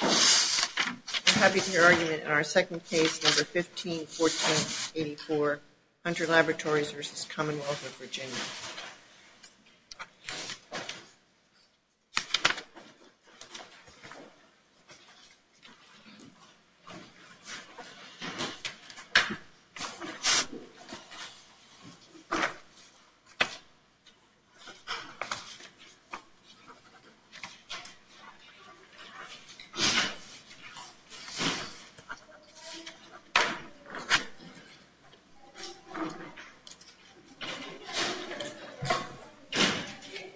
I'm happy to hear argument in our second case, number 15-14-84, Hunter Laboratories v. Commonwealth of Virginia.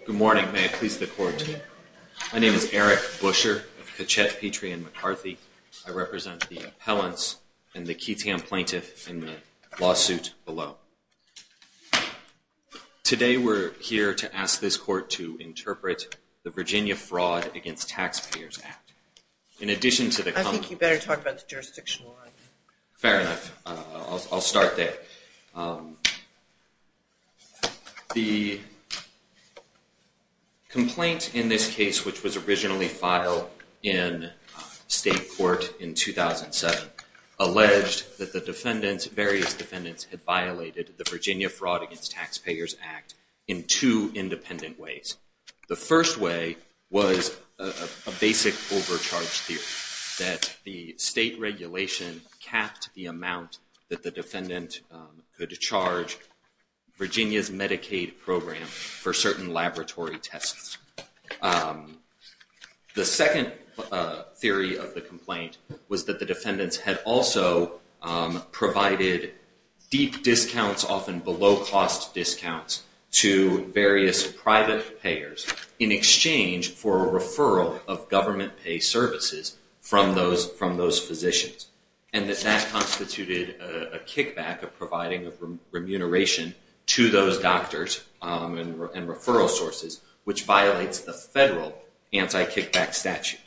Good morning, may it please the court. My name is Eric Buescher of Kachet, Petrie and McCarthy. I represent the appellants and the Keatsham plaintiff in the lawsuit below. Today we're here to ask this court to interpret the Virginia Fraud Against Taxpayers Act. In addition to the... I think you better talk about the jurisdictional argument. Fair enough. I'll start there. The complaint in this case, which was originally filed in state court in 2007, alleged that the various defendants had violated the Virginia Fraud Against Taxpayers Act in two independent ways. The first way was a basic overcharge theory, that the state regulation capped the amount that the defendant could charge Virginia's Medicaid program for certain laboratory tests. The second theory of the complaint was that the defendants had also provided deep discounts, often below cost discounts, to various private payers in exchange for a referral of government pay services from those physicians. And that that constituted a kickback of providing remuneration to those doctors and referral sources, which violates the federal anti-kickback statute.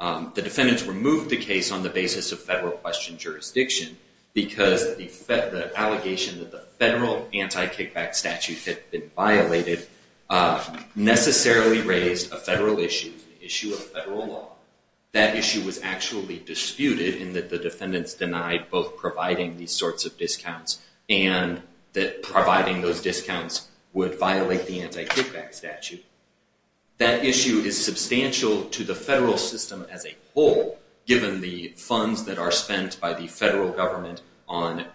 The defendants removed the case on the basis of federal question jurisdiction because the allegation that the federal anti-kickback statute had been violated necessarily raised a federal issue, an issue of federal law. That issue was actually disputed in that the defendants denied both providing these sorts of discounts and that providing those discounts would violate the anti-kickback statute. That issue is substantial to the federal system as a whole, given the funds that are spent by the federal government on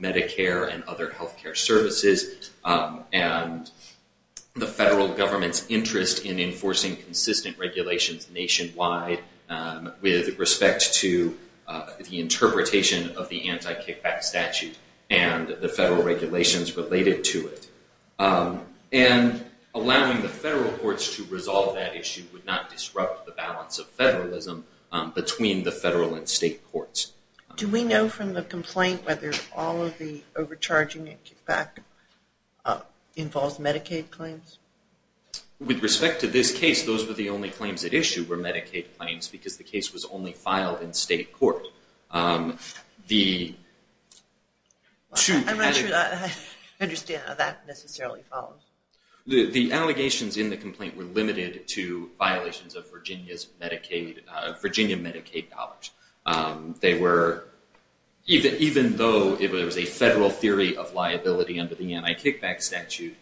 Medicare and other health care services and the federal government's interest in enforcing consistent regulations nationwide with respect to the interpretation of the anti-kickback statute and the federal regulations related to it. And allowing the federal courts to resolve that issue would not disrupt the balance of federalism between the federal and state courts. Do we know from the complaint whether all of the overcharging and kickback involves Medicaid claims? With respect to this case, those were the only claims at issue were Medicaid claims because the case was only filed in state court. I'm not sure I understand how that necessarily followed. The allegations in the complaint were limited to violations of Virginia Medicaid dollars. Even though there was a federal theory of liability under the anti-kickback statute,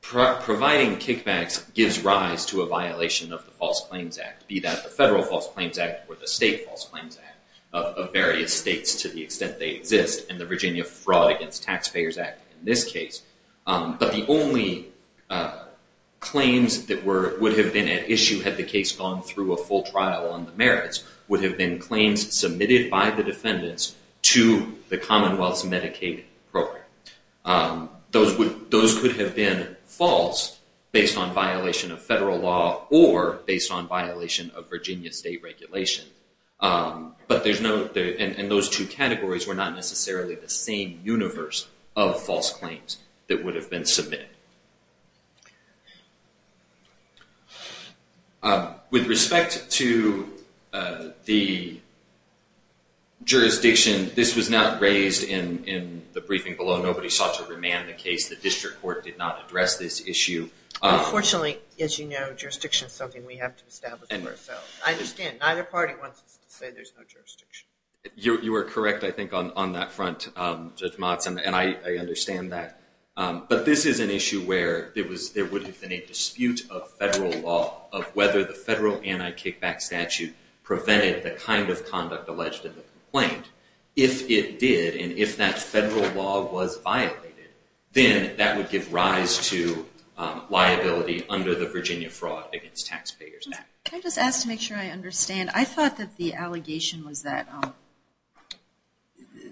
providing kickbacks gives rise to a violation of the False Claims Act, be that the federal False Claims Act or the state False Claims Act of various states to the extent they exist and the Virginia Fraud Against Taxpayers Act in this case. But the only claims that would have been at issue had the case gone through a full trial on the merits would have been claims submitted by the defendants to the Commonwealth's Medicaid program. Those could have been false based on violation of federal law or based on violation of Virginia state regulation. But those two categories were not necessarily the same universe of false claims that would have been submitted. With respect to the jurisdiction, this was not raised in the briefing below. Nobody sought to remand the case. The district court did not address this issue. Unfortunately, as you know, jurisdiction is something we have to establish for ourselves. I understand. Neither party wants to say there's no jurisdiction. You are correct, I think, on that front, Judge Motz, and I understand that. But this is an issue where there would have been a dispute of federal law of whether the federal anti-kickback statute prevented the kind of conduct alleged in the complaint. If it did, and if that federal law was violated, then that would give rise to liability under the Virginia Fraud Against Taxpayers Act. Can I just ask to make sure I understand? I thought that the allegation was that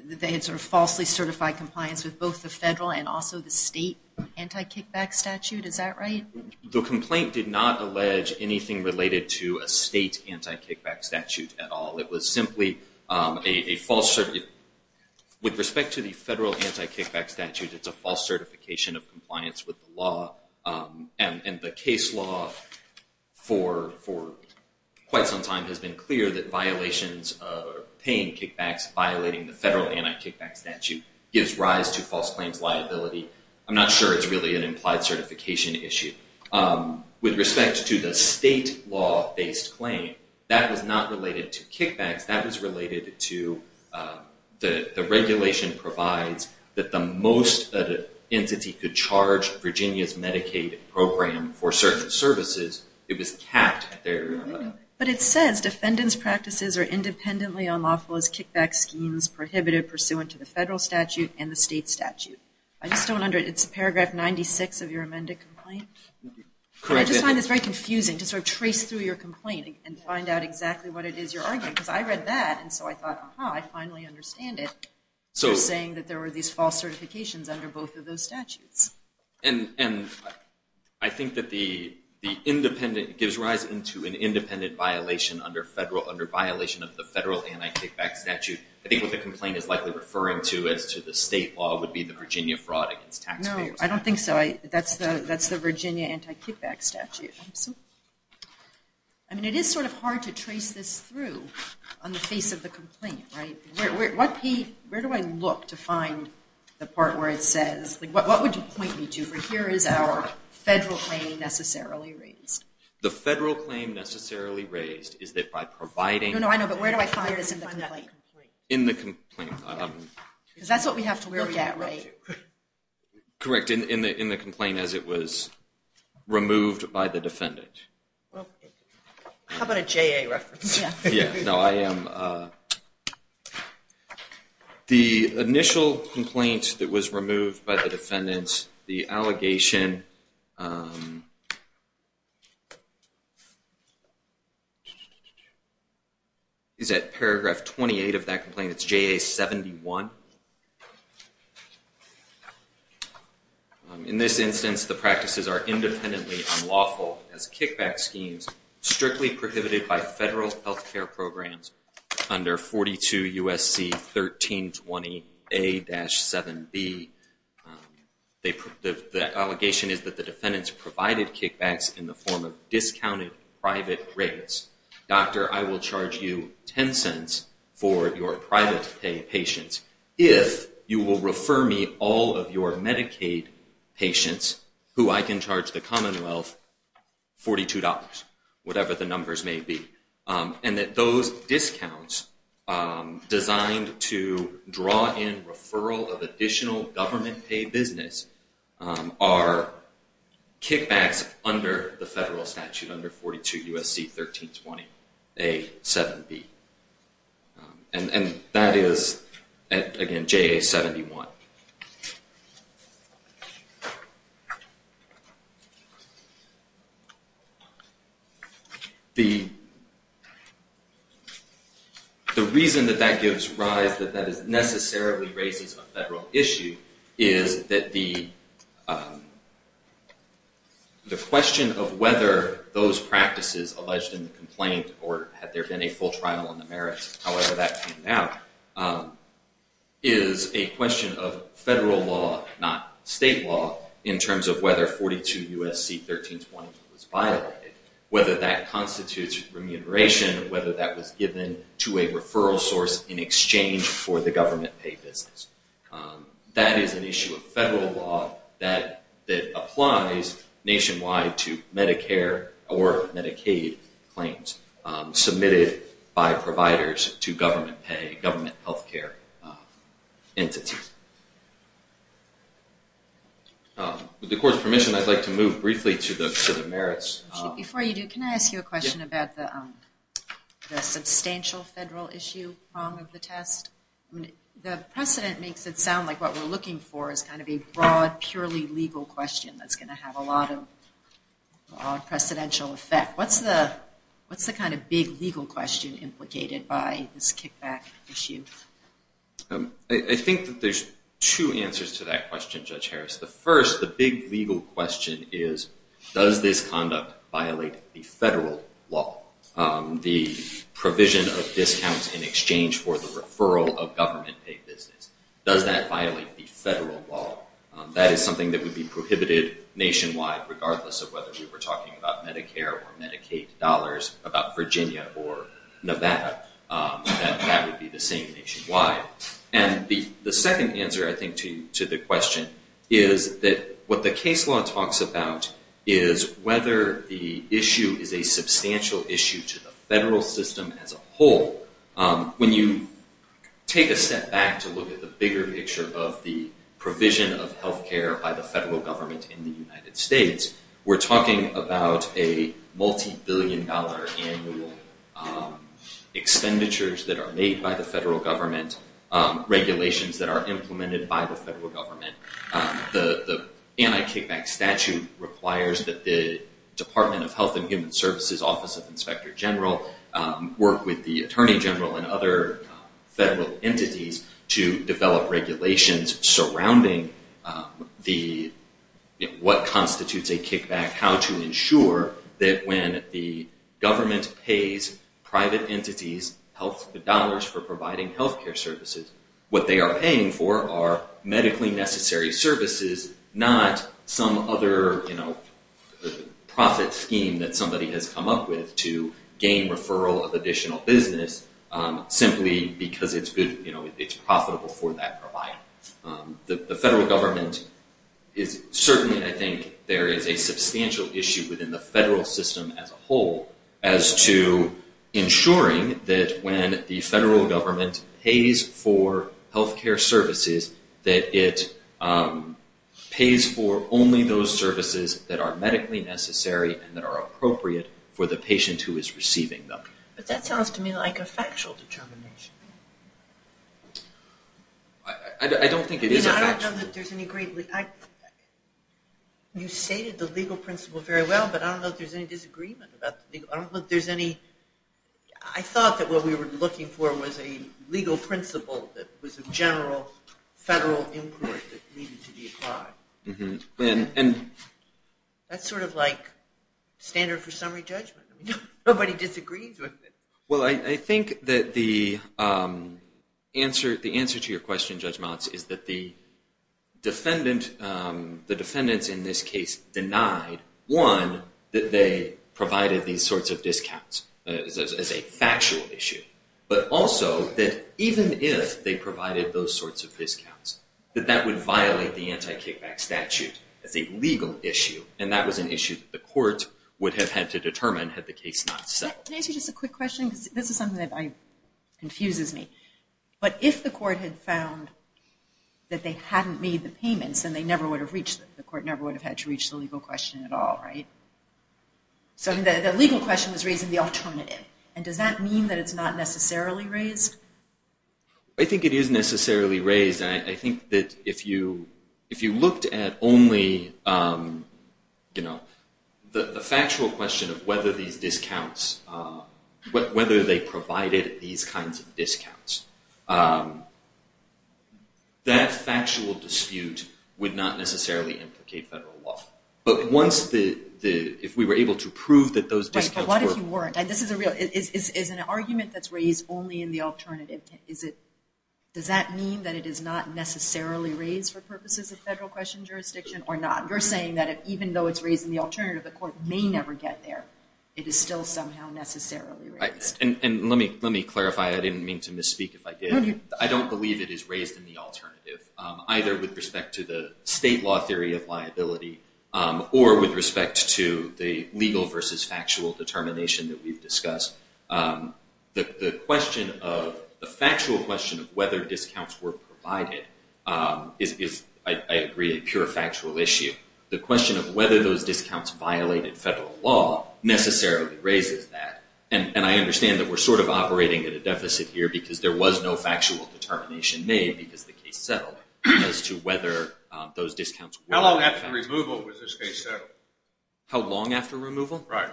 they had sort of falsely certified compliance with both the federal and also the state anti-kickback statute. Is that right? The complaint did not allege anything related to a state anti-kickback statute at all. It was simply a false certificate. With respect to the federal anti-kickback statute, it's a false certification of compliance with the law. And the case law for quite some time has been clear that violations or paying kickbacks violating the federal anti-kickback statute gives rise to false claims liability. I'm not sure it's really an implied certification issue. With respect to the state law-based claim, that was not related to kickbacks. That was related to the regulation provides that the most entity could charge Virginia's Medicaid program for certain services, it was capped. But it says defendants' practices are independently unlawful as kickback schemes prohibited pursuant to the federal statute and the state statute. I just don't understand. It's paragraph 96 of your amended complaint? Correct. I just find this very confusing to sort of trace through your complaint and find out exactly what it is you're arguing. Because I read that, and so I thought, aha, I finally understand it. You're saying that there were these false certifications under both of those statutes. And I think that the independent gives rise to an independent violation under violation of the federal anti-kickback statute. I think what the complaint is likely referring to as to the state law would be the Virginia fraud against taxpayers. No, I don't think so. That's the Virginia anti-kickback statute. I mean, it is sort of hard to trace this through on the face of the complaint, right? Where do I look to find the part where it says, what would you point me to? Here is our federal claim necessarily raised. The federal claim necessarily raised is that by providing- Because that's what we have to look at, right? Correct, in the complaint as it was removed by the defendant. How about a JA reference? The initial complaint that was removed by the defendant, the allegation is at paragraph 28 of that complaint. It's JA 71. In this instance, the practices are independently unlawful as kickback schemes strictly prohibited by federal health care programs under 42 U.S.C. 1320A-7B. The allegation is that the defendants provided kickbacks in the form of discounted private rates. Doctor, I will charge you 10 cents for your private pay patients if you will refer me all of your Medicaid patients who I can charge the Commonwealth $42, whatever the numbers may be. Those discounts designed to draw in referral of additional government-paid business are kickbacks under the federal statute under 42 U.S.C. 1320A-7B. That is, again, JA 71. The reason that that gives rise that that necessarily raises a federal issue is that the question of whether those practices alleged in the complaint or had there been a full trial on the merits, however that came out, is a question of federal law, not state law, in terms of whether 42 U.S.C. 1320 was violated, whether that constitutes remuneration, whether that was given to a referral source in exchange for the government-paid business. That is an issue of federal law that applies nationwide to Medicare or Medicaid claims submitted by providers to government pay, government health care entities. With the court's permission, I'd like to move briefly to the merits. Before you do, can I ask you a question about the substantial federal issue of the test? The precedent makes it sound like what we're looking for is kind of a broad, purely legal question that's going to have a lot of precedential effect. What's the kind of big legal question implicated by this kickback issue? I think that there's two answers to that question, Judge Harris. The first, the big legal question is, does this conduct violate the federal law, the provision of discounts in exchange for the referral of government-paid business? Does that violate the federal law? That is something that would be prohibited nationwide, regardless of whether you were talking about Medicare or Medicaid dollars, about Virginia or Nevada. That would be the same nationwide. The second answer, I think, to the question is that what the case law talks about is whether the issue is a substantial issue to the federal system as a whole. When you take a step back to look at the bigger picture of the provision of health care by the federal government in the United States, we're talking about a multibillion-dollar annual expenditures that are made by the federal government, regulations that are implemented by the federal government. The anti-kickback statute requires that the Department of Health and Human Services Office of Inspector General work with the Attorney General and other federal entities to develop regulations surrounding what constitutes a kickback, how to ensure that when the government pays private entities dollars for providing health care services, what they are paying for are medically necessary services, not some other profit scheme that somebody has come up with to gain referral of additional business, simply because it's profitable for that provider. The federal government is certainly, I think, there is a substantial issue within the federal system as a whole as to ensuring that when the federal government pays for health care services, that it pays for only those services that are medically necessary and that are appropriate for the patient who is receiving them. But that sounds to me like a factual determination. I don't think it is a factual determination. You stated the legal principle very well, but I don't know if there's any disagreement. I thought that what we were looking for was a legal principle that was a general federal inquiry that needed to be applied. That's sort of like standard for summary judgment. Nobody disagrees with it. Well, I think that the answer to your question, Judge Motz, is that the defendants in this case denied, one, that they provided these sorts of discounts as a factual issue, but also that even if they provided those sorts of discounts, that that would violate the anti-kickback statute as a legal issue, and that was an issue that the court would have had to determine had the case not settled. Can I ask you just a quick question? This is something that confuses me. But if the court had found that they hadn't made the payments, then the court never would have had to reach the legal question at all, right? So the legal question was raising the alternative, and does that mean that it's not necessarily raised? I think it is necessarily raised, and I think that if you looked at only the factual question of whether these discounts, whether they provided these kinds of discounts, that factual dispute would not necessarily implicate federal law. But if we were able to prove that those discounts were— Right, but what if you weren't? This is a real—is an argument that's raised only in the alternative, does that mean that it is not necessarily raised for purposes of federal question jurisdiction or not? You're saying that even though it's raised in the alternative, the court may never get there. It is still somehow necessarily raised. And let me clarify. I didn't mean to misspeak if I did. I don't believe it is raised in the alternative, either with respect to the state law theory of liability or with respect to the legal versus factual determination that we've discussed. The question of—the factual question of whether discounts were provided is, I agree, a pure factual issue. The question of whether those discounts violated federal law necessarily raises that. And I understand that we're sort of operating at a deficit here because there was no factual determination made because the case settled as to whether those discounts were— How long after removal was this case settled? How long after removal? Right.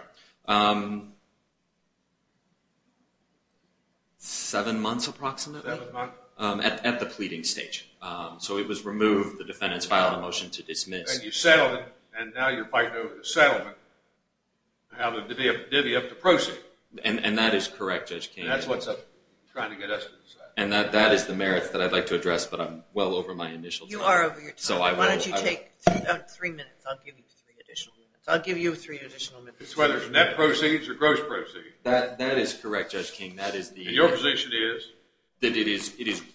Seven months approximately? Seven months. At the pleading stage. So it was removed, the defendants filed a motion to dismiss. And you settled it, and now you're fighting over the settlement. Now the divvy up the proceeds. And that is correct, Judge King. And that's what's trying to get us to decide. And that is the merits that I'd like to address, but I'm well over my initial time. You are over your time. Why don't you take three minutes? I'll give you three additional minutes. I'll give you three additional minutes. It's whether it's net proceeds or gross proceeds. That is correct, Judge King. And your position is? That it is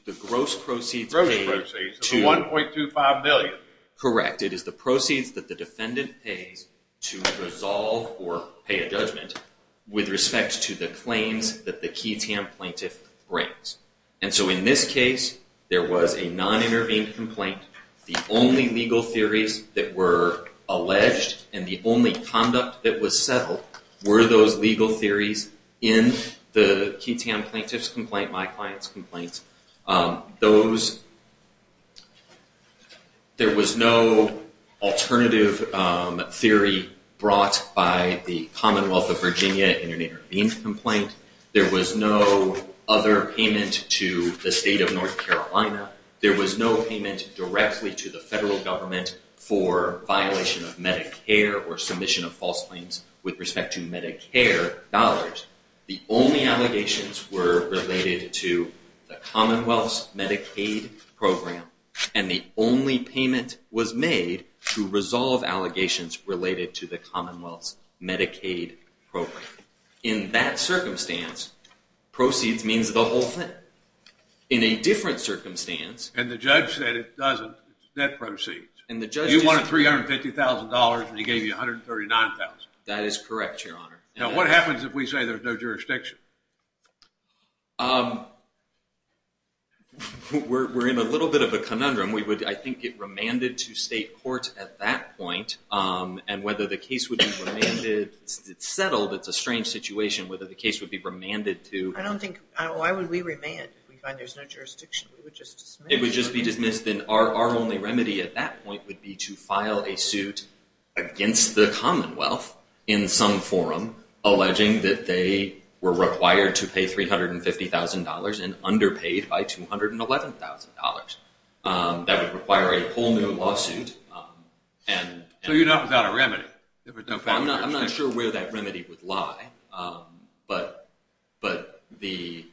the gross proceeds paid to— Gross proceeds. The $1.25 million. Correct. It is the proceeds that the defendant pays to resolve or pay a judgment with respect to the claims that the QTAM plaintiff brings. And so in this case, there was a non-intervened complaint. The only legal theories that were alleged, and the only conduct that was settled, were those legal theories in the QTAM plaintiff's complaint, my client's complaint. Those—there was no alternative theory brought by the Commonwealth of Virginia in an intervened complaint. There was no other payment to the state of North Carolina. There was no payment directly to the federal government for violation of Medicare or submission of false claims with respect to Medicare dollars. The only allegations were related to the Commonwealth's Medicaid program. And the only payment was made to resolve allegations related to the Commonwealth's Medicaid program. In that circumstance, proceeds means the whole thing. In a different circumstance— And the judge said it doesn't. It's net proceeds. And the judge— You wanted $350,000, and he gave you $139,000. That is correct, Your Honor. Now, what happens if we say there's no jurisdiction? We're in a little bit of a conundrum. We would, I think, get remanded to state court at that point. And whether the case would be remanded—it's settled. It's a strange situation whether the case would be remanded to— I don't think—why would we remand if we find there's no jurisdiction? We would just dismiss. It would just be dismissed. Then our only remedy at that point would be to file a suit against the Commonwealth in some forum alleging that they were required to pay $350,000 and underpaid by $211,000. That would require a whole new lawsuit. So you're not without a remedy. I'm not sure where that remedy would lie. But the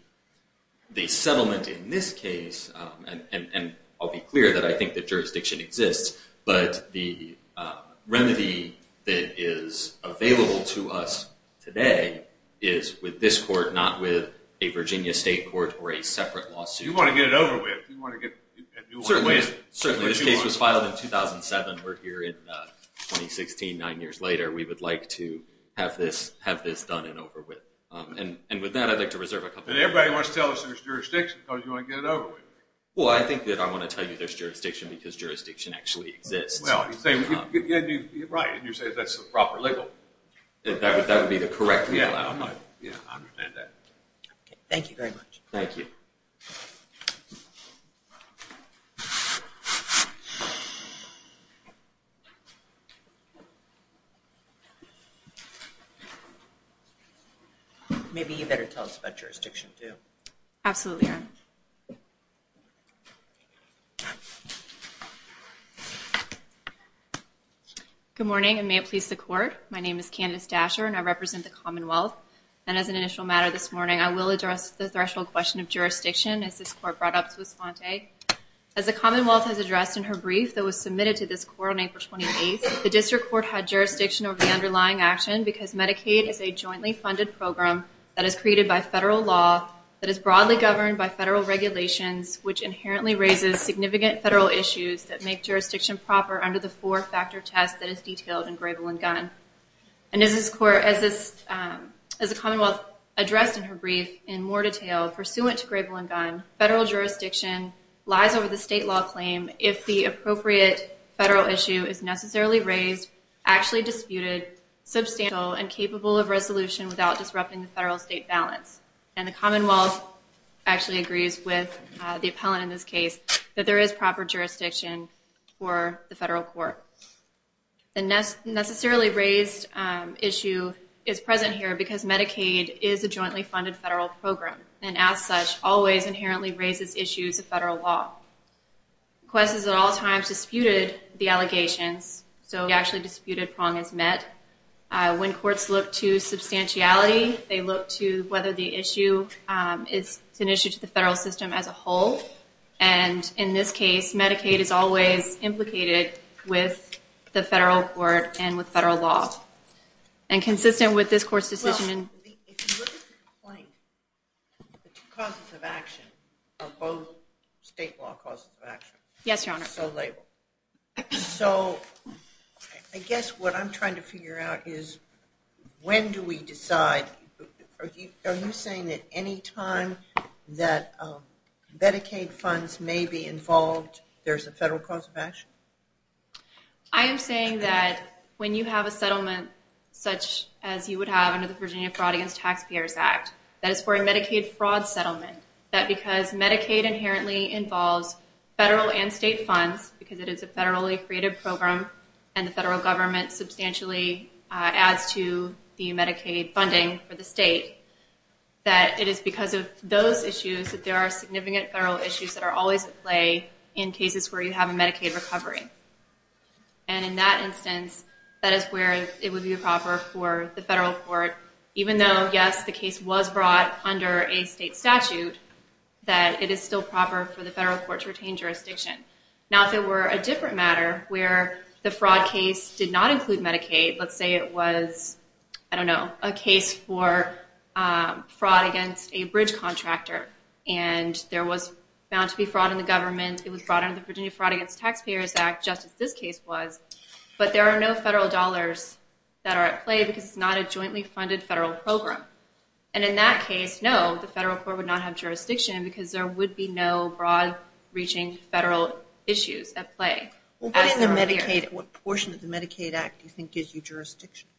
settlement in this case—and I'll be clear that I think the jurisdiction exists— but the remedy that is available to us today is with this court, not with a Virginia state court or a separate lawsuit. You want to get it over with. Certainly. Certainly. This case was filed in 2007. We're here in 2016, nine years later. We would like to have this done and over with. And with that, I'd like to reserve a couple of minutes. Everybody wants to tell us there's jurisdiction because you want to get it over with. Well, I think that I want to tell you there's jurisdiction because jurisdiction actually exists. Well, you're right. You're saying that's the proper legal— That would be the correct legal outline. Yeah, I understand that. Thank you very much. Thank you. Maybe you better tell us about jurisdiction, too. Absolutely. Good morning, and may it please the Court. My name is Candace Dasher, and I represent the Commonwealth. And as an initial matter this morning, I will address the threshold question of jurisdiction, as this Court brought up to Esponte. As the Commonwealth has addressed in her brief that was submitted to this Court on April 28th, the District Court had jurisdiction over the underlying action because Medicaid is a jointly funded program that is created by federal law, that is broadly governed by federal regulations, which inherently raises significant federal issues that make jurisdiction proper under the four-factor test that is detailed in Grable and Gunn. And as the Commonwealth addressed in her brief in more detail, pursuant to Grable and Gunn, federal jurisdiction lies over the state law claim if the appropriate federal issue is necessarily raised, actually disputed, substantial, and capable of resolution without disrupting the federal-state balance. And the Commonwealth actually agrees with the appellant in this case that there is proper jurisdiction for the federal court. The necessarily raised issue is present here because Medicaid is a jointly funded federal program and, as such, always inherently raises issues of federal law. Quest has at all times disputed the allegations, so we actually disputed prong as met. When courts look to substantiality, they look to whether the issue is an issue to the federal system as a whole. And in this case, Medicaid is always implicated with the federal court and with federal law. And consistent with this court's decision in- Well, if you look at the complaint, the two causes of action are both state law causes of action. Yes, Your Honor. So labeled. So I guess what I'm trying to figure out is when do we decide? Are you saying that any time that Medicaid funds may be involved, there's a federal cause of action? I am saying that when you have a settlement such as you would have under the Virginia Fraud Against Taxpayers Act, that is for a Medicaid fraud settlement, that because Medicaid inherently involves federal and state funds because it is a federally created program and the federal government substantially adds to the Medicaid funding for the state, that it is because of those issues that there are significant federal issues that are always at play in cases where you have a Medicaid recovery. And in that instance, that is where it would be proper for the federal court, even though, yes, the case was brought under a state statute, that it is still proper for the federal court to retain jurisdiction. Now, if it were a different matter where the fraud case did not include Medicaid, let's say it was, I don't know, a case for fraud against a bridge contractor and there was found to be fraud in the government, it was brought under the Virginia Fraud Against Taxpayers Act, just as this case was, but there are no federal dollars that are at play because it's not a jointly funded federal program. And in that case, no, the federal court would not have jurisdiction because there would be no broad-reaching federal issues at play. What portion of the Medicaid Act do you think gives you jurisdiction?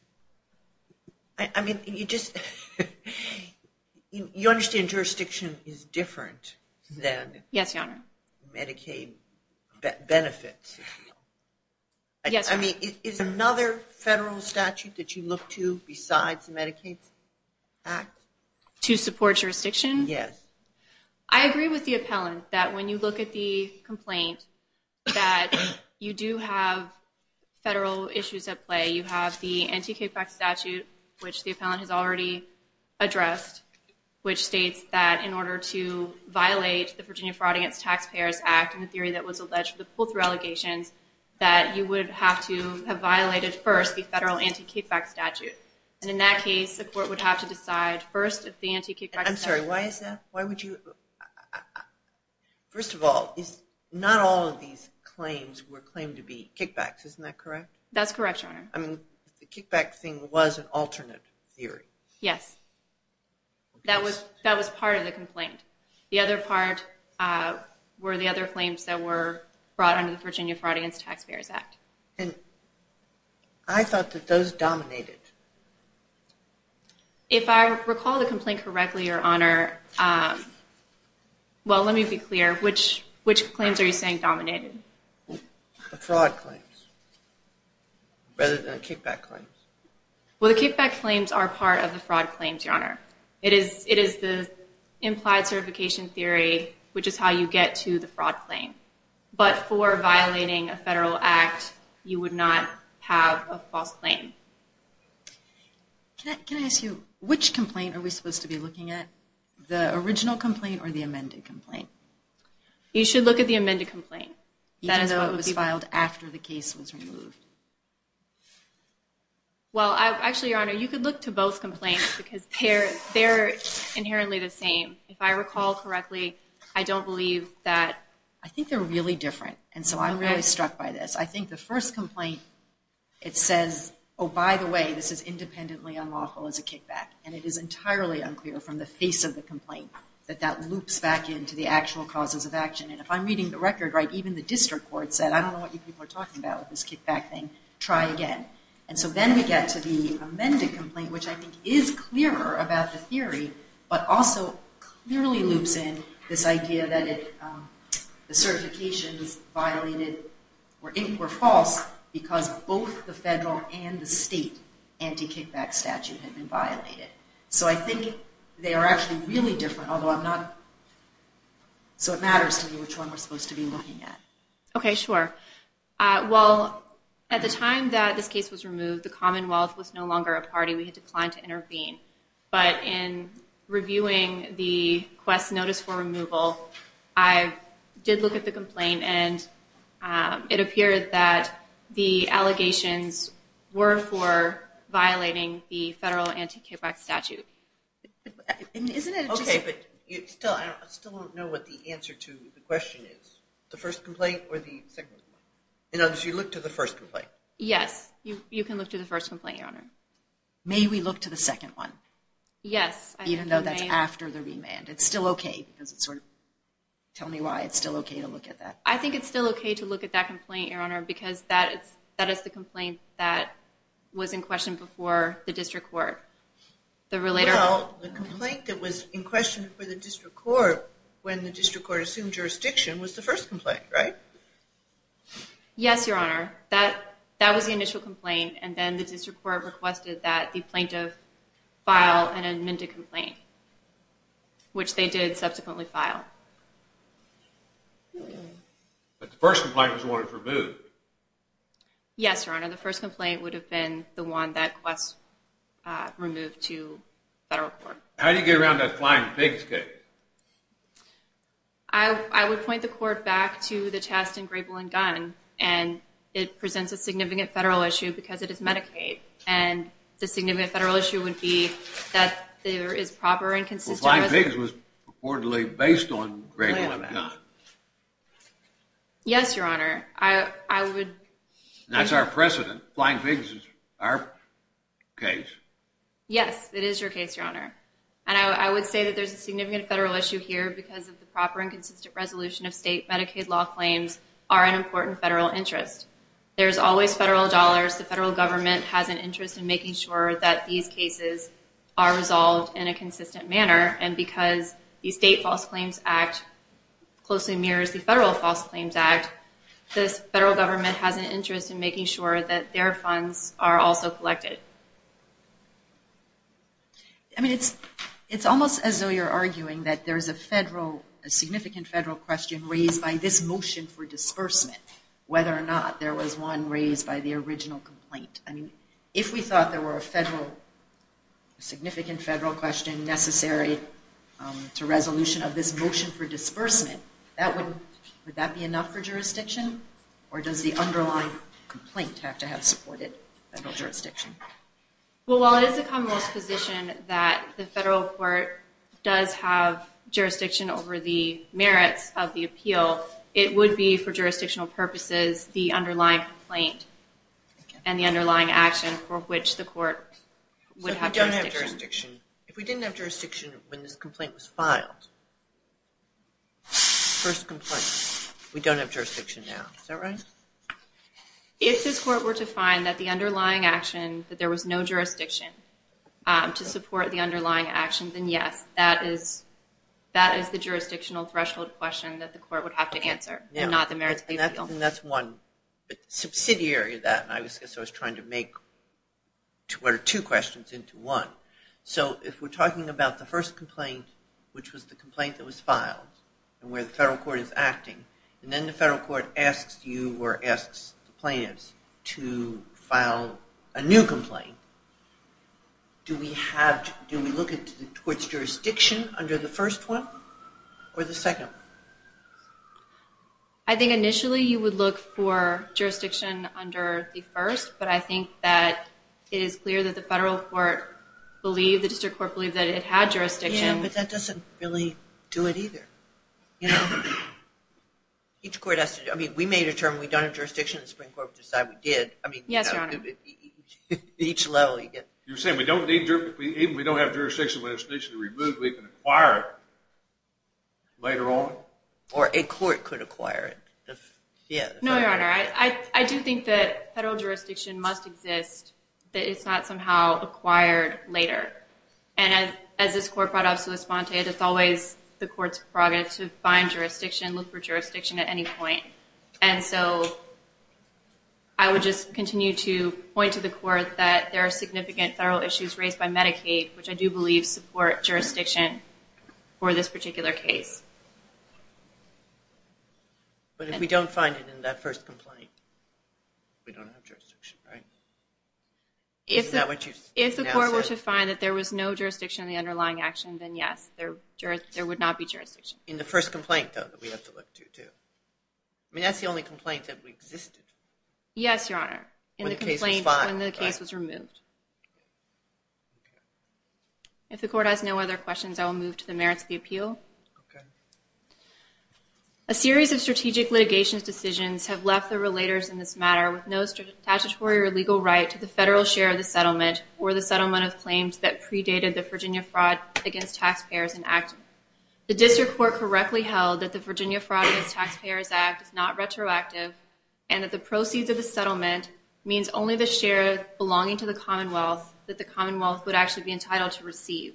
I mean, you just, you understand jurisdiction is different than Medicaid benefits. I mean, is another federal statute that you look to besides the Medicaid Act? To support jurisdiction? Yes. I agree with the appellant that when you look at the complaint, that you do have federal issues at play. You have the anti-kickback statute, which the appellant has already addressed, which states that in order to violate the Virginia Fraud Against Taxpayers Act and the theory that was alleged for the pull-through allegations, that you would have to have violated first the federal anti-kickback statute. And in that case, the court would have to decide first if the anti-kickback statute… I'm sorry, why is that? Why would you… First of all, not all of these claims were claimed to be kickbacks. Isn't that correct? That's correct, Your Honor. I mean, the kickback thing was an alternate theory. Yes. That was part of the complaint. The other part were the other claims that were brought under the Virginia Fraud Against Taxpayers Act. And I thought that those dominated. If I recall the complaint correctly, Your Honor, well, let me be clear. Which claims are you saying dominated? The fraud claims rather than the kickback claims. Well, the kickback claims are part of the fraud claims, Your Honor. It is the implied certification theory, which is how you get to the fraud claim. But for violating a federal act, you would not have a false claim. Can I ask you, which complaint are we supposed to be looking at, the original complaint or the amended complaint? You should look at the amended complaint. Even though it was filed after the case was removed. Well, actually, Your Honor, you could look to both complaints because they're inherently the same. If I recall correctly, I don't believe that… I think they're really different, and so I'm really struck by this. I think the first complaint, it says, oh, by the way, this is independently unlawful as a kickback. And it is entirely unclear from the face of the complaint that that loops back into the actual causes of action. And if I'm reading the record right, even the district court said, I don't know what you people are talking about with this kickback thing. Try again. And so then we get to the amended complaint, which I think is clearer about the theory, but also clearly loops in this idea that the certifications violated were false because both the federal and the state anti-kickback statute had been violated. So I think they are actually really different, although I'm not… So it matters to me which one we're supposed to be looking at. Okay, sure. Well, at the time that this case was removed, the Commonwealth was no longer a party. We had declined to intervene. But in reviewing the quest notice for removal, I did look at the complaint, and it appeared that the allegations were for violating the federal anti-kickback statute. Okay, but I still don't know what the answer to the question is. The first complaint or the second one? In other words, you look to the first complaint. Yes, you can look to the first complaint, Your Honor. May we look to the second one? Yes. Even though that's after the remand. It's still okay. Tell me why it's still okay to look at that. I think it's still okay to look at that complaint, Your Honor, because that is the complaint that was in question before the district court. Well, the complaint that was in question before the district court when the district court assumed jurisdiction was the first complaint, right? Yes, Your Honor. That was the initial complaint, and then the district court requested that the plaintiff file an amended complaint, which they did subsequently file. But the first complaint was the one that was removed. Yes, Your Honor. The first complaint would have been the one that was removed to federal court. How do you get around that flying pigs case? I would point the court back to the test in Grable and Gunn, and it presents a significant federal issue because it is Medicaid, and the significant federal issue would be that there is proper and consistent. Well, flying pigs was reportedly based on Grable and Gunn. Yes, Your Honor. That's our precedent. Flying pigs is our case. Yes, it is your case, Your Honor. And I would say that there's a significant federal issue here because of the proper and consistent resolution of state Medicaid law claims are an important federal interest. There's always federal dollars. The federal government has an interest in making sure that these cases are resolved in a consistent manner, and because the State False Claims Act closely mirrors the Federal False Claims Act, this federal government has an interest in making sure that their funds are also collected. I mean, it's almost as though you're arguing that there's a federal, a significant federal question raised by this motion for disbursement, whether or not there was one raised by the original complaint. I mean, if we thought there were a federal, a significant federal question necessary to resolution of this motion for disbursement, would that be enough for jurisdiction, or does the underlying complaint have to have supported federal jurisdiction? Well, while it is the Commonwealth's position that the federal court does have jurisdiction over the merits of the appeal, it would be for jurisdictional purposes the underlying complaint and the underlying action for which the court would have jurisdiction. So if we don't have jurisdiction, if we didn't have jurisdiction when this complaint was filed, first complaint, we don't have jurisdiction now, is that right? If this court were to find that the underlying action, that there was no jurisdiction to support the underlying action, then yes, that is the jurisdictional threshold question that the court would have to answer, and not the merits of the appeal. And that's one, but the subsidiary of that, and I guess I was trying to make two questions into one. So if we're talking about the first complaint, which was the complaint that was filed and where the federal court is acting, and then the federal court asks you or asks the plaintiffs to file a new complaint, do we have, do we look at the court's jurisdiction under the first one or the second one? I think initially you would look for jurisdiction under the first, but I think that it is clear that the federal court believed, the district court believed that it had jurisdiction. Yeah, but that doesn't really do it either. Each court has to, I mean, we made a term, we've done a jurisdiction, the Supreme Court decided we did. Yes, Your Honor. Each level you get. You're saying we don't need jurisdiction, we don't have jurisdiction when it's initially removed, we can acquire it later on? Or a court could acquire it. No, Your Honor, I do think that federal jurisdiction must exist, that it's not somehow acquired later. And as this court brought up, it's always the court's prerogative to find jurisdiction, look for jurisdiction at any point. And so I would just continue to point to the court that there are significant federal issues raised by Medicaid, which I do believe support jurisdiction for this particular case. But if we don't find it in that first complaint, we don't have jurisdiction, right? If the court were to find that there was no jurisdiction in the underlying action, then yes, there would not be jurisdiction. In the first complaint, though, that we have to look to, too. I mean, that's the only complaint that existed. Yes, Your Honor. When the case was filed. When the case was removed. If the court has no other questions, I will move to the merits of the appeal. Okay. A series of strategic litigation decisions have left the relators in this matter with no statutory or legal right to the federal share of the settlement or the settlement of claims that predated the Virginia fraud against taxpayers enacted. The district court correctly held that the Virginia Fraud Against Taxpayers Act is not retroactive and that the proceeds of the settlement means only the share belonging to the commonwealth that the commonwealth would actually be entitled to receive.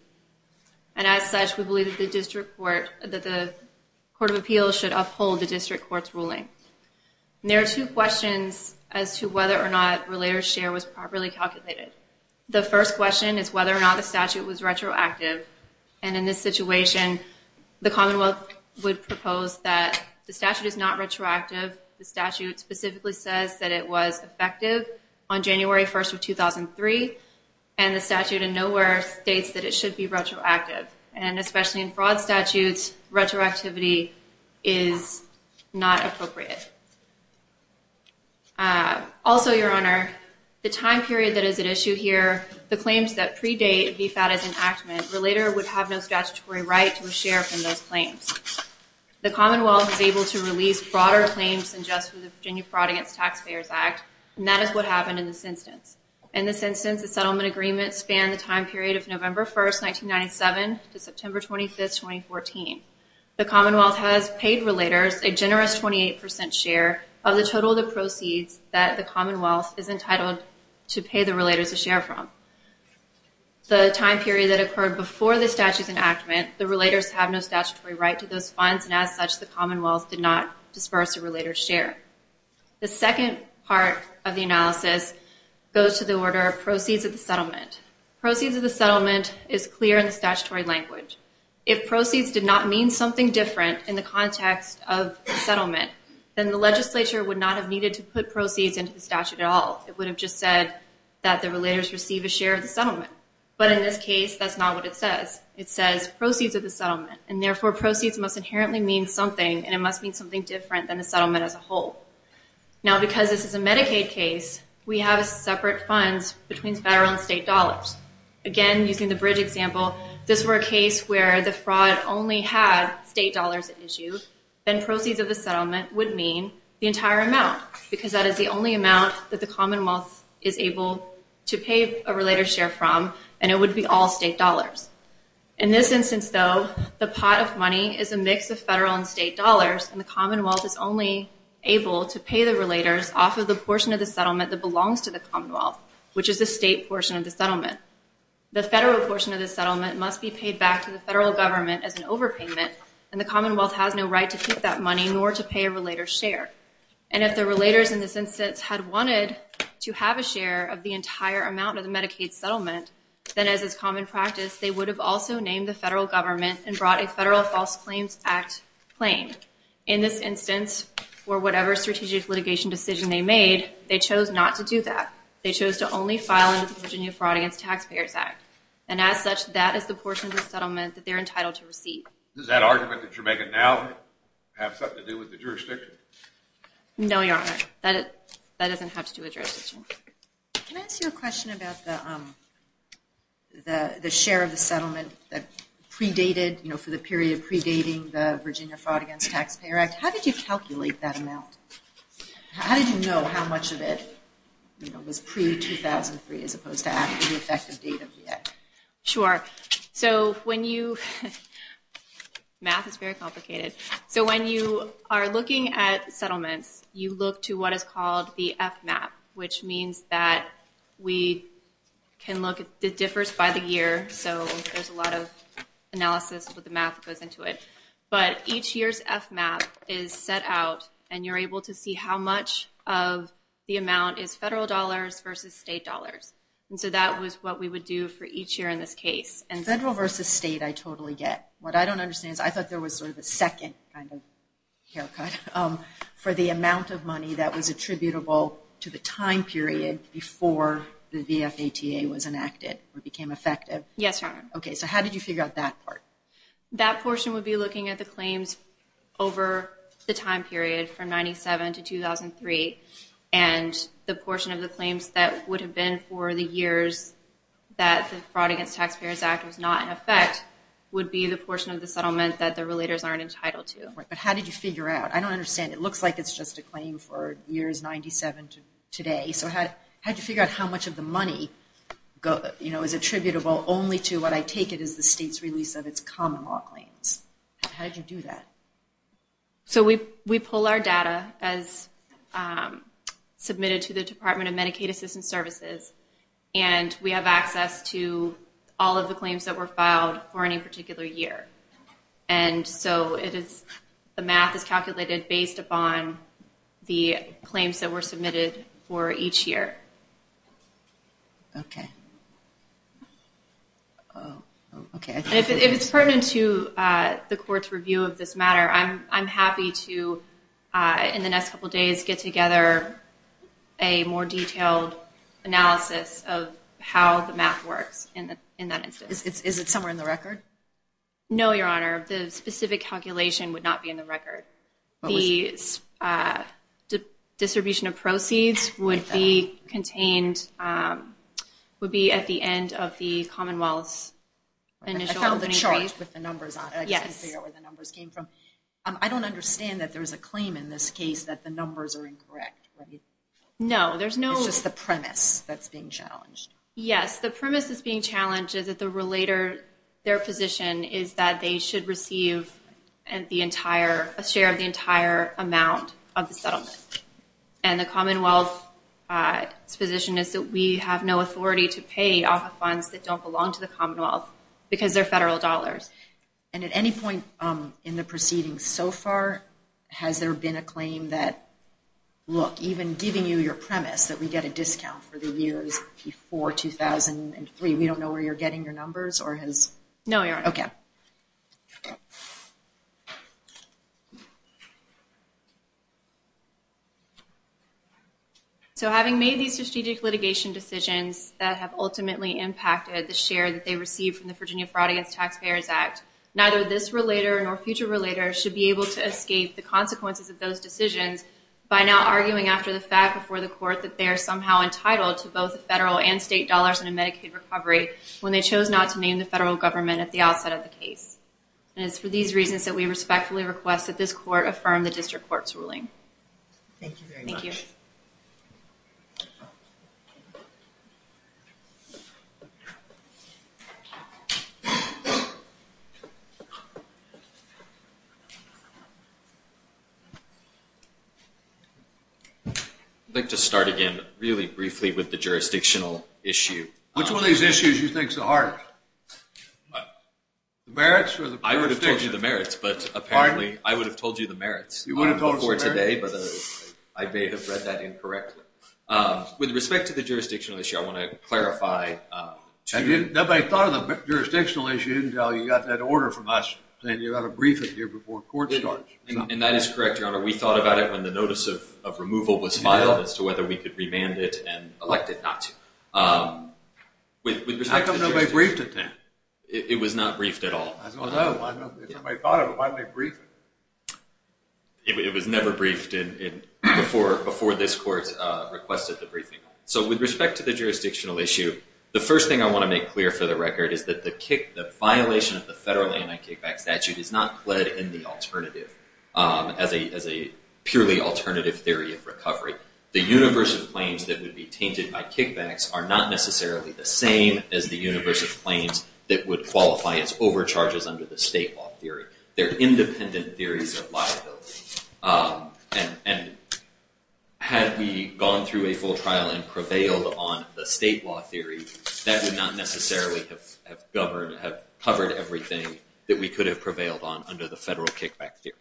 And as such, we believe that the court of appeals should uphold the district court's ruling. And there are two questions as to whether or not relator's share was properly calculated. The first question is whether or not the statute was retroactive. And in this situation, the commonwealth would propose that the statute is not retroactive. The statute specifically says that it was effective on January 1st of 2003. And the statute in nowhere states that it should be retroactive. And especially in fraud statutes, retroactivity is not appropriate. Also, Your Honor, the time period that is at issue here, the claims that predate VFAT as enactment, relator would have no statutory right to a share from those claims. The commonwealth is able to release broader claims than just the Virginia Fraud Against Taxpayers Act. And that is what happened in this instance. In this instance, the settlement agreement spanned the time period of November 1st, 1997 to September 25th, 2014. The commonwealth has paid relators a generous 28% share of the total of the proceeds that the commonwealth is entitled to pay the relators a share from. The time period that occurred before the statute's enactment, the relators have no statutory right to those funds, and as such, the commonwealth did not disperse a relator's share. The second part of the analysis goes to the order of proceeds of the settlement. Proceeds of the settlement is clear in the statutory language. If proceeds did not mean something different in the context of settlement, then the legislature would not have needed to put proceeds into the statute at all. It would have just said that the relators receive a share of the settlement. But in this case, that's not what it says. It says proceeds of the settlement. And therefore, proceeds must inherently mean something, and it must mean something different than the settlement as a whole. Now, because this is a Medicaid case, we have separate funds between federal and state dollars. Again, using the bridge example, if this were a case where the fraud only had state dollars at issue, then proceeds of the settlement would mean the entire amount, because that is the only amount that the commonwealth is able to pay a relator's share from, and it would be all state dollars. In this instance, though, the pot of money is a mix of federal and state dollars, and the commonwealth is only able to pay the relators off of the portion of the settlement that belongs to the commonwealth, which is the state portion of the settlement. The federal portion of the settlement must be paid back to the federal government as an overpayment, and the commonwealth has no right to keep that money nor to pay a relator's share. And if the relators in this instance had wanted to have a share of the entire amount of the Medicaid settlement, then as is common practice, they would have also named the federal government and brought a Federal False Claims Act claim. In this instance, for whatever strategic litigation decision they made, they chose not to do that. They chose to only file under the Virginia Fraud Against Taxpayers Act, and as such, that is the portion of the settlement that they're entitled to receive. Does that argument that you're making now have something to do with the jurisdiction? No, Your Honor. That doesn't have to do with jurisdiction. Can I ask you a question about the share of the settlement that predated, you know, for the period predating the Virginia Fraud Against Taxpayers Act? How did you calculate that amount? How did you know how much of it was pre-2003 as opposed to after the effective date of the act? Sure. So when you – math is very complicated. So when you are looking at settlements, you look to what is called the FMAP, which means that we can look – it differs by the year, so there's a lot of analysis with the math that goes into it. But each year's FMAP is set out, and you're able to see how much of the amount is federal dollars versus state dollars. And so that was what we would do for each year in this case. Federal versus state I totally get. What I don't understand is I thought there was sort of a second kind of haircut for the amount of money that was attributable to the time period before the VFATA was enacted or became effective. Yes, Your Honor. Okay, so how did you figure out that part? That portion would be looking at the claims over the time period from 1997 to 2003, and the portion of the claims that would have been for the years that the Fraud Against Taxpayers Act was not in effect would be the portion of the settlement that the relators aren't entitled to. But how did you figure out? I don't understand. It looks like it's just a claim for years 97 to today. So how did you figure out how much of the money, you know, is attributable only to what I take it is the state's release of its common law claims? How did you do that? So we pull our data as submitted to the Department of Medicaid Assistance Services, and we have access to all of the claims that were filed for any particular year. And so the math is calculated based upon the claims that were submitted for each year. Okay. If it's pertinent to the court's review of this matter, I'm happy to, in the next couple of days, get together a more detailed analysis of how the math works in that instance. Is it somewhere in the record? No, Your Honor. The specific calculation would not be in the record. The distribution of proceeds would be contained, would be at the end of the Commonwealth's initial opening brief. I found the chart with the numbers on it. I just couldn't figure out where the numbers came from. I don't understand that there's a claim in this case that the numbers are incorrect. No, there's no. It's just the premise that's being challenged. Yes, the premise that's being challenged is that the relator, their position is that they should receive a share of the entire amount of the settlement. And the Commonwealth's position is that we have no authority to pay off of funds that don't belong to the Commonwealth because they're federal dollars. And at any point in the proceedings so far, has there been a claim that, look, even giving you your premise that we get a discount for the years before 2003, we don't know where you're getting your numbers or has... No, Your Honor. Okay. So having made these strategic litigation decisions that have ultimately impacted the share that they received from the Virginia Fraud Against Taxpayers Act, neither this relator nor future relators should be able to escape the consequences of those decisions by now arguing after the fact before the court that they are somehow entitled to both federal and state dollars in a Medicaid recovery when they chose not to name the federal government at the outset of the case. And it's for these reasons that we respectfully request that this court affirm the district court's ruling. Thank you very much. Thank you. Thank you. I'd like to start again really briefly with the jurisdictional issue. Which one of these issues do you think is the hardest? The merits or the jurisdiction? I would have told you the merits, but apparently I would have told you the merits. You would have told us the merits? I may have read that incorrectly. With respect to the jurisdictional issue, I want to clarify... Nobody thought of the jurisdictional issue until you got that order from us saying you ought to brief it here before court starts. And that is correct, Your Honor. We thought about it when the notice of removal was filed as to whether we could remand it and elect it not to. With respect to jurisdiction... How come nobody briefed it then? It was not briefed at all. I don't know. If nobody thought of it, why did they brief it? It was never briefed before this court requested the briefing. So with respect to the jurisdictional issue, the first thing I want to make clear for the record is that the violation of the federal anti-kickback statute is not pled in the alternative as a purely alternative theory of recovery. The universe of claims that would be tainted by kickbacks are not necessarily the same as the universe of claims that would qualify as overcharges under the state law theory. They're independent theories of liability. And had we gone through a full trial and prevailed on the state law theory, that would not necessarily have covered everything that we could have prevailed on under the federal kickback theory.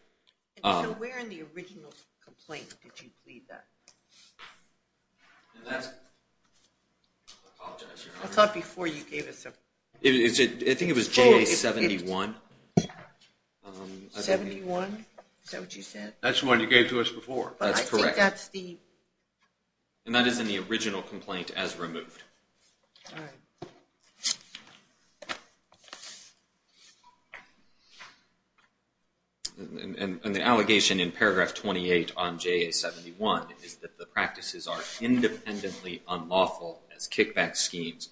So where in the original complaint did you plead that? That's... I thought before you gave us a... I think it was JA-71. 71? Is that what you said? That's the one you gave to us before. That's correct. And the allegation in paragraph 28 on JA-71 is that the practices are independently unlawful as kickback schemes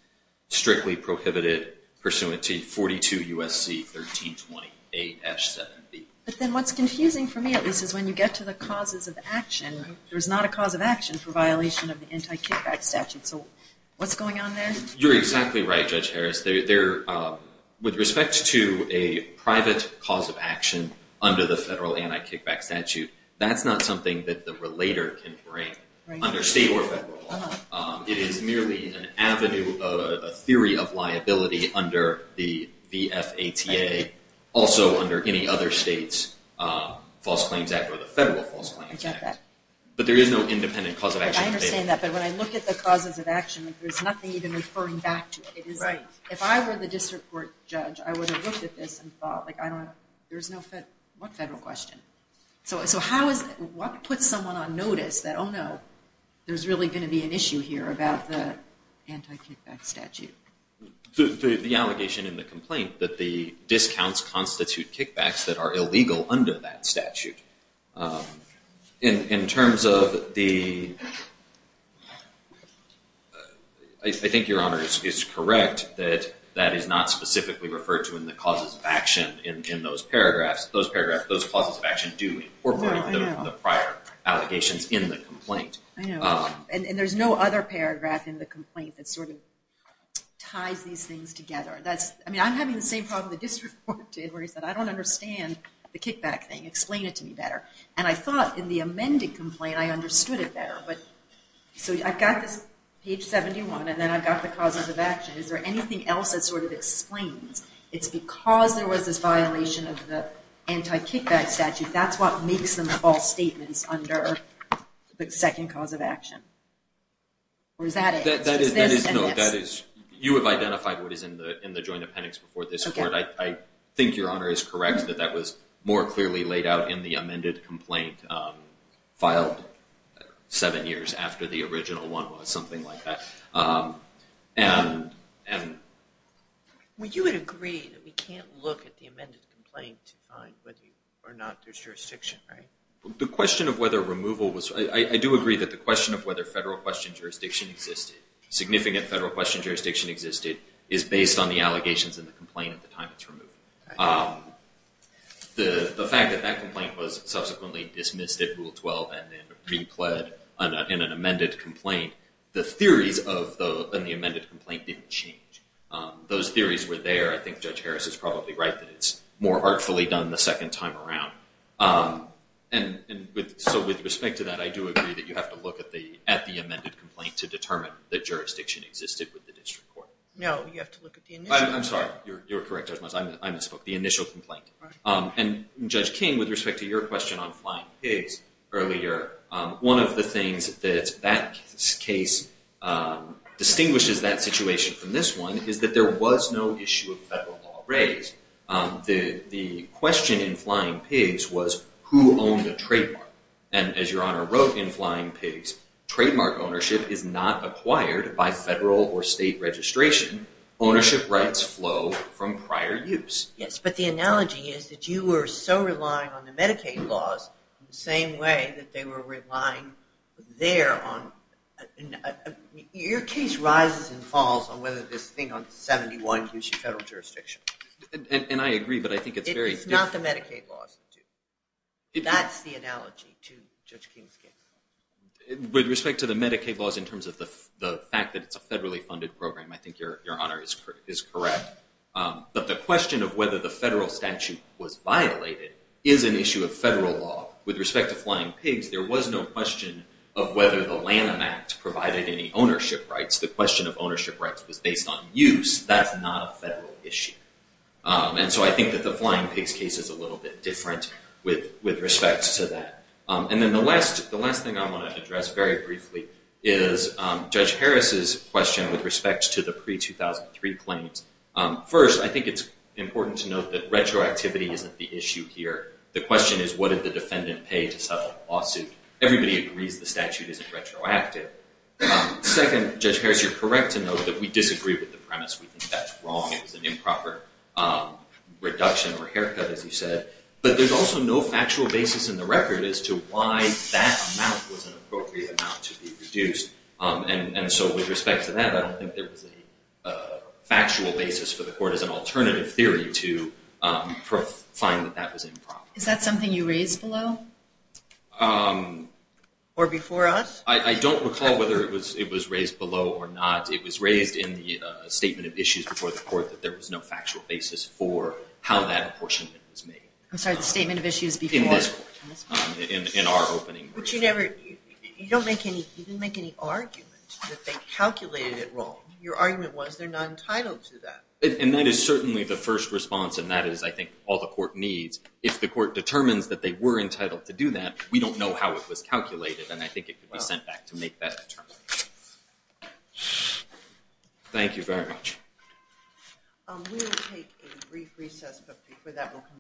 strictly prohibited pursuant to 42 U.S.C. 1328-7B. But then what's confusing for me at least is when you get to the causes of action, there's not a cause of action for violation of the anti-kickback statute. So what's going on there? You're exactly right, Judge Harris. With respect to a private cause of action under the federal anti-kickback statute, that's not something that the relator can bring under state or federal law. It is merely an avenue, a theory of liability under the VFATA, also under any other state's false claims act or the federal false claims act. But there is no independent cause of action. I understand that, but when I look at the causes of action, there's nothing even referring back to it. If I were the district court judge, I would have looked at this and thought, there's no federal... what federal question? So how is... what puts someone on notice that, oh no, there's really going to be an issue here about the anti-kickback statute? The allegation in the complaint that the discounts constitute kickbacks that are illegal under that statute. In terms of the... I think Your Honor is correct that that is not specifically referred to in the causes of action in those paragraphs. Those paragraphs, those causes of action do incorporate the prior allegations in the complaint. I know. And there's no other paragraph in the complaint that sort of ties these things together. That's... I mean, I'm having the same problem the district court did where he said, I don't understand the kickback thing. Explain it to me better. And I thought in the amended complaint, I understood it better. But... so I've got this page 71 and then I've got the causes of action. Is there anything else that sort of explains it's because there was this violation of the anti-kickback statute, that's what makes them false statements under the second cause of action? Or is that it? No, that is... you have identified what is in the joint appendix before this court. I think Your Honor is correct that that was more clearly laid out in the amended complaint filed seven years after the original one was, something like that. And... Well, you would agree that we can't look at the amended complaint to find whether or not there's jurisdiction, right? The question of whether removal was... I do agree that the question of whether federal question jurisdiction existed, significant federal question jurisdiction existed, is based on the allegations in the complaint at the time it's removed. The fact that that complaint was subsequently dismissed at Rule 12 and then replayed in an amended complaint, the theories in the amended complaint didn't change. Those theories were there. I think Judge Harris is probably right that it's more artfully done the second time around. And so with respect to that, I do agree that you have to look at the amended complaint to determine that jurisdiction existed with the district court. No, you have to look at the initial... I'm sorry. You're correct, Judge Moss. I misspoke. The initial complaint. And Judge King, with respect to your question on flying pigs earlier, one of the things that that case distinguishes that situation from this one is that there was no issue of federal law raised. The question in flying pigs was who owned the trademark. And as Your Honor wrote in flying pigs, trademark ownership is not acquired by federal or state registration. Ownership rights flow from prior use. Yes, but the analogy is that you were so relying on the Medicaid laws in the same way that they were relying there on... Your case rises and falls on whether this thing on 71 gives you federal jurisdiction. And I agree, but I think it's very... It's not the Medicaid laws. That's the analogy to Judge King's case. With respect to the Medicaid laws in terms of the fact that it's a federally funded program, I think Your Honor is correct. But the question of whether the federal statute was violated is an issue of federal law. With respect to flying pigs, there was no question of whether the Lanham Act provided any ownership rights. The question of ownership rights was based on use. That's not a federal issue. And so I think that the flying pigs case is a little bit different with respect to that. And then the last thing I want to address very briefly is Judge Harris' question with respect to the pre-2003 claims. First, I think it's important to note that retroactivity isn't the issue here. The question is, what did the defendant pay to settle the lawsuit? Everybody agrees the statute isn't retroactive. Second, Judge Harris, you're correct to note that we disagree with the premise. We think that's wrong. It was an improper reduction or haircut, as you said. But there's also no factual basis in the record as to why that amount was an appropriate amount to be reduced. And so with respect to that, I don't think there was a factual basis for the court as an alternative theory to find that that was improper. Is that something you raised below? Or before us? I don't recall whether it was raised below or not. It was raised in the statement of issues before the court that there was no factual basis for how that apportionment was made. I'm sorry, the statement of issues before? In this court, in our opening. You didn't make any argument that they calculated it wrong. Your argument was they're not entitled to that. And that is certainly the first response, and that is, I think, all the court needs. If the court determines that they were entitled to do that, we don't know how it was calculated, and I think it could be sent back to make that determination. Thank you very much. We will take a brief recess, but before that we'll conclude.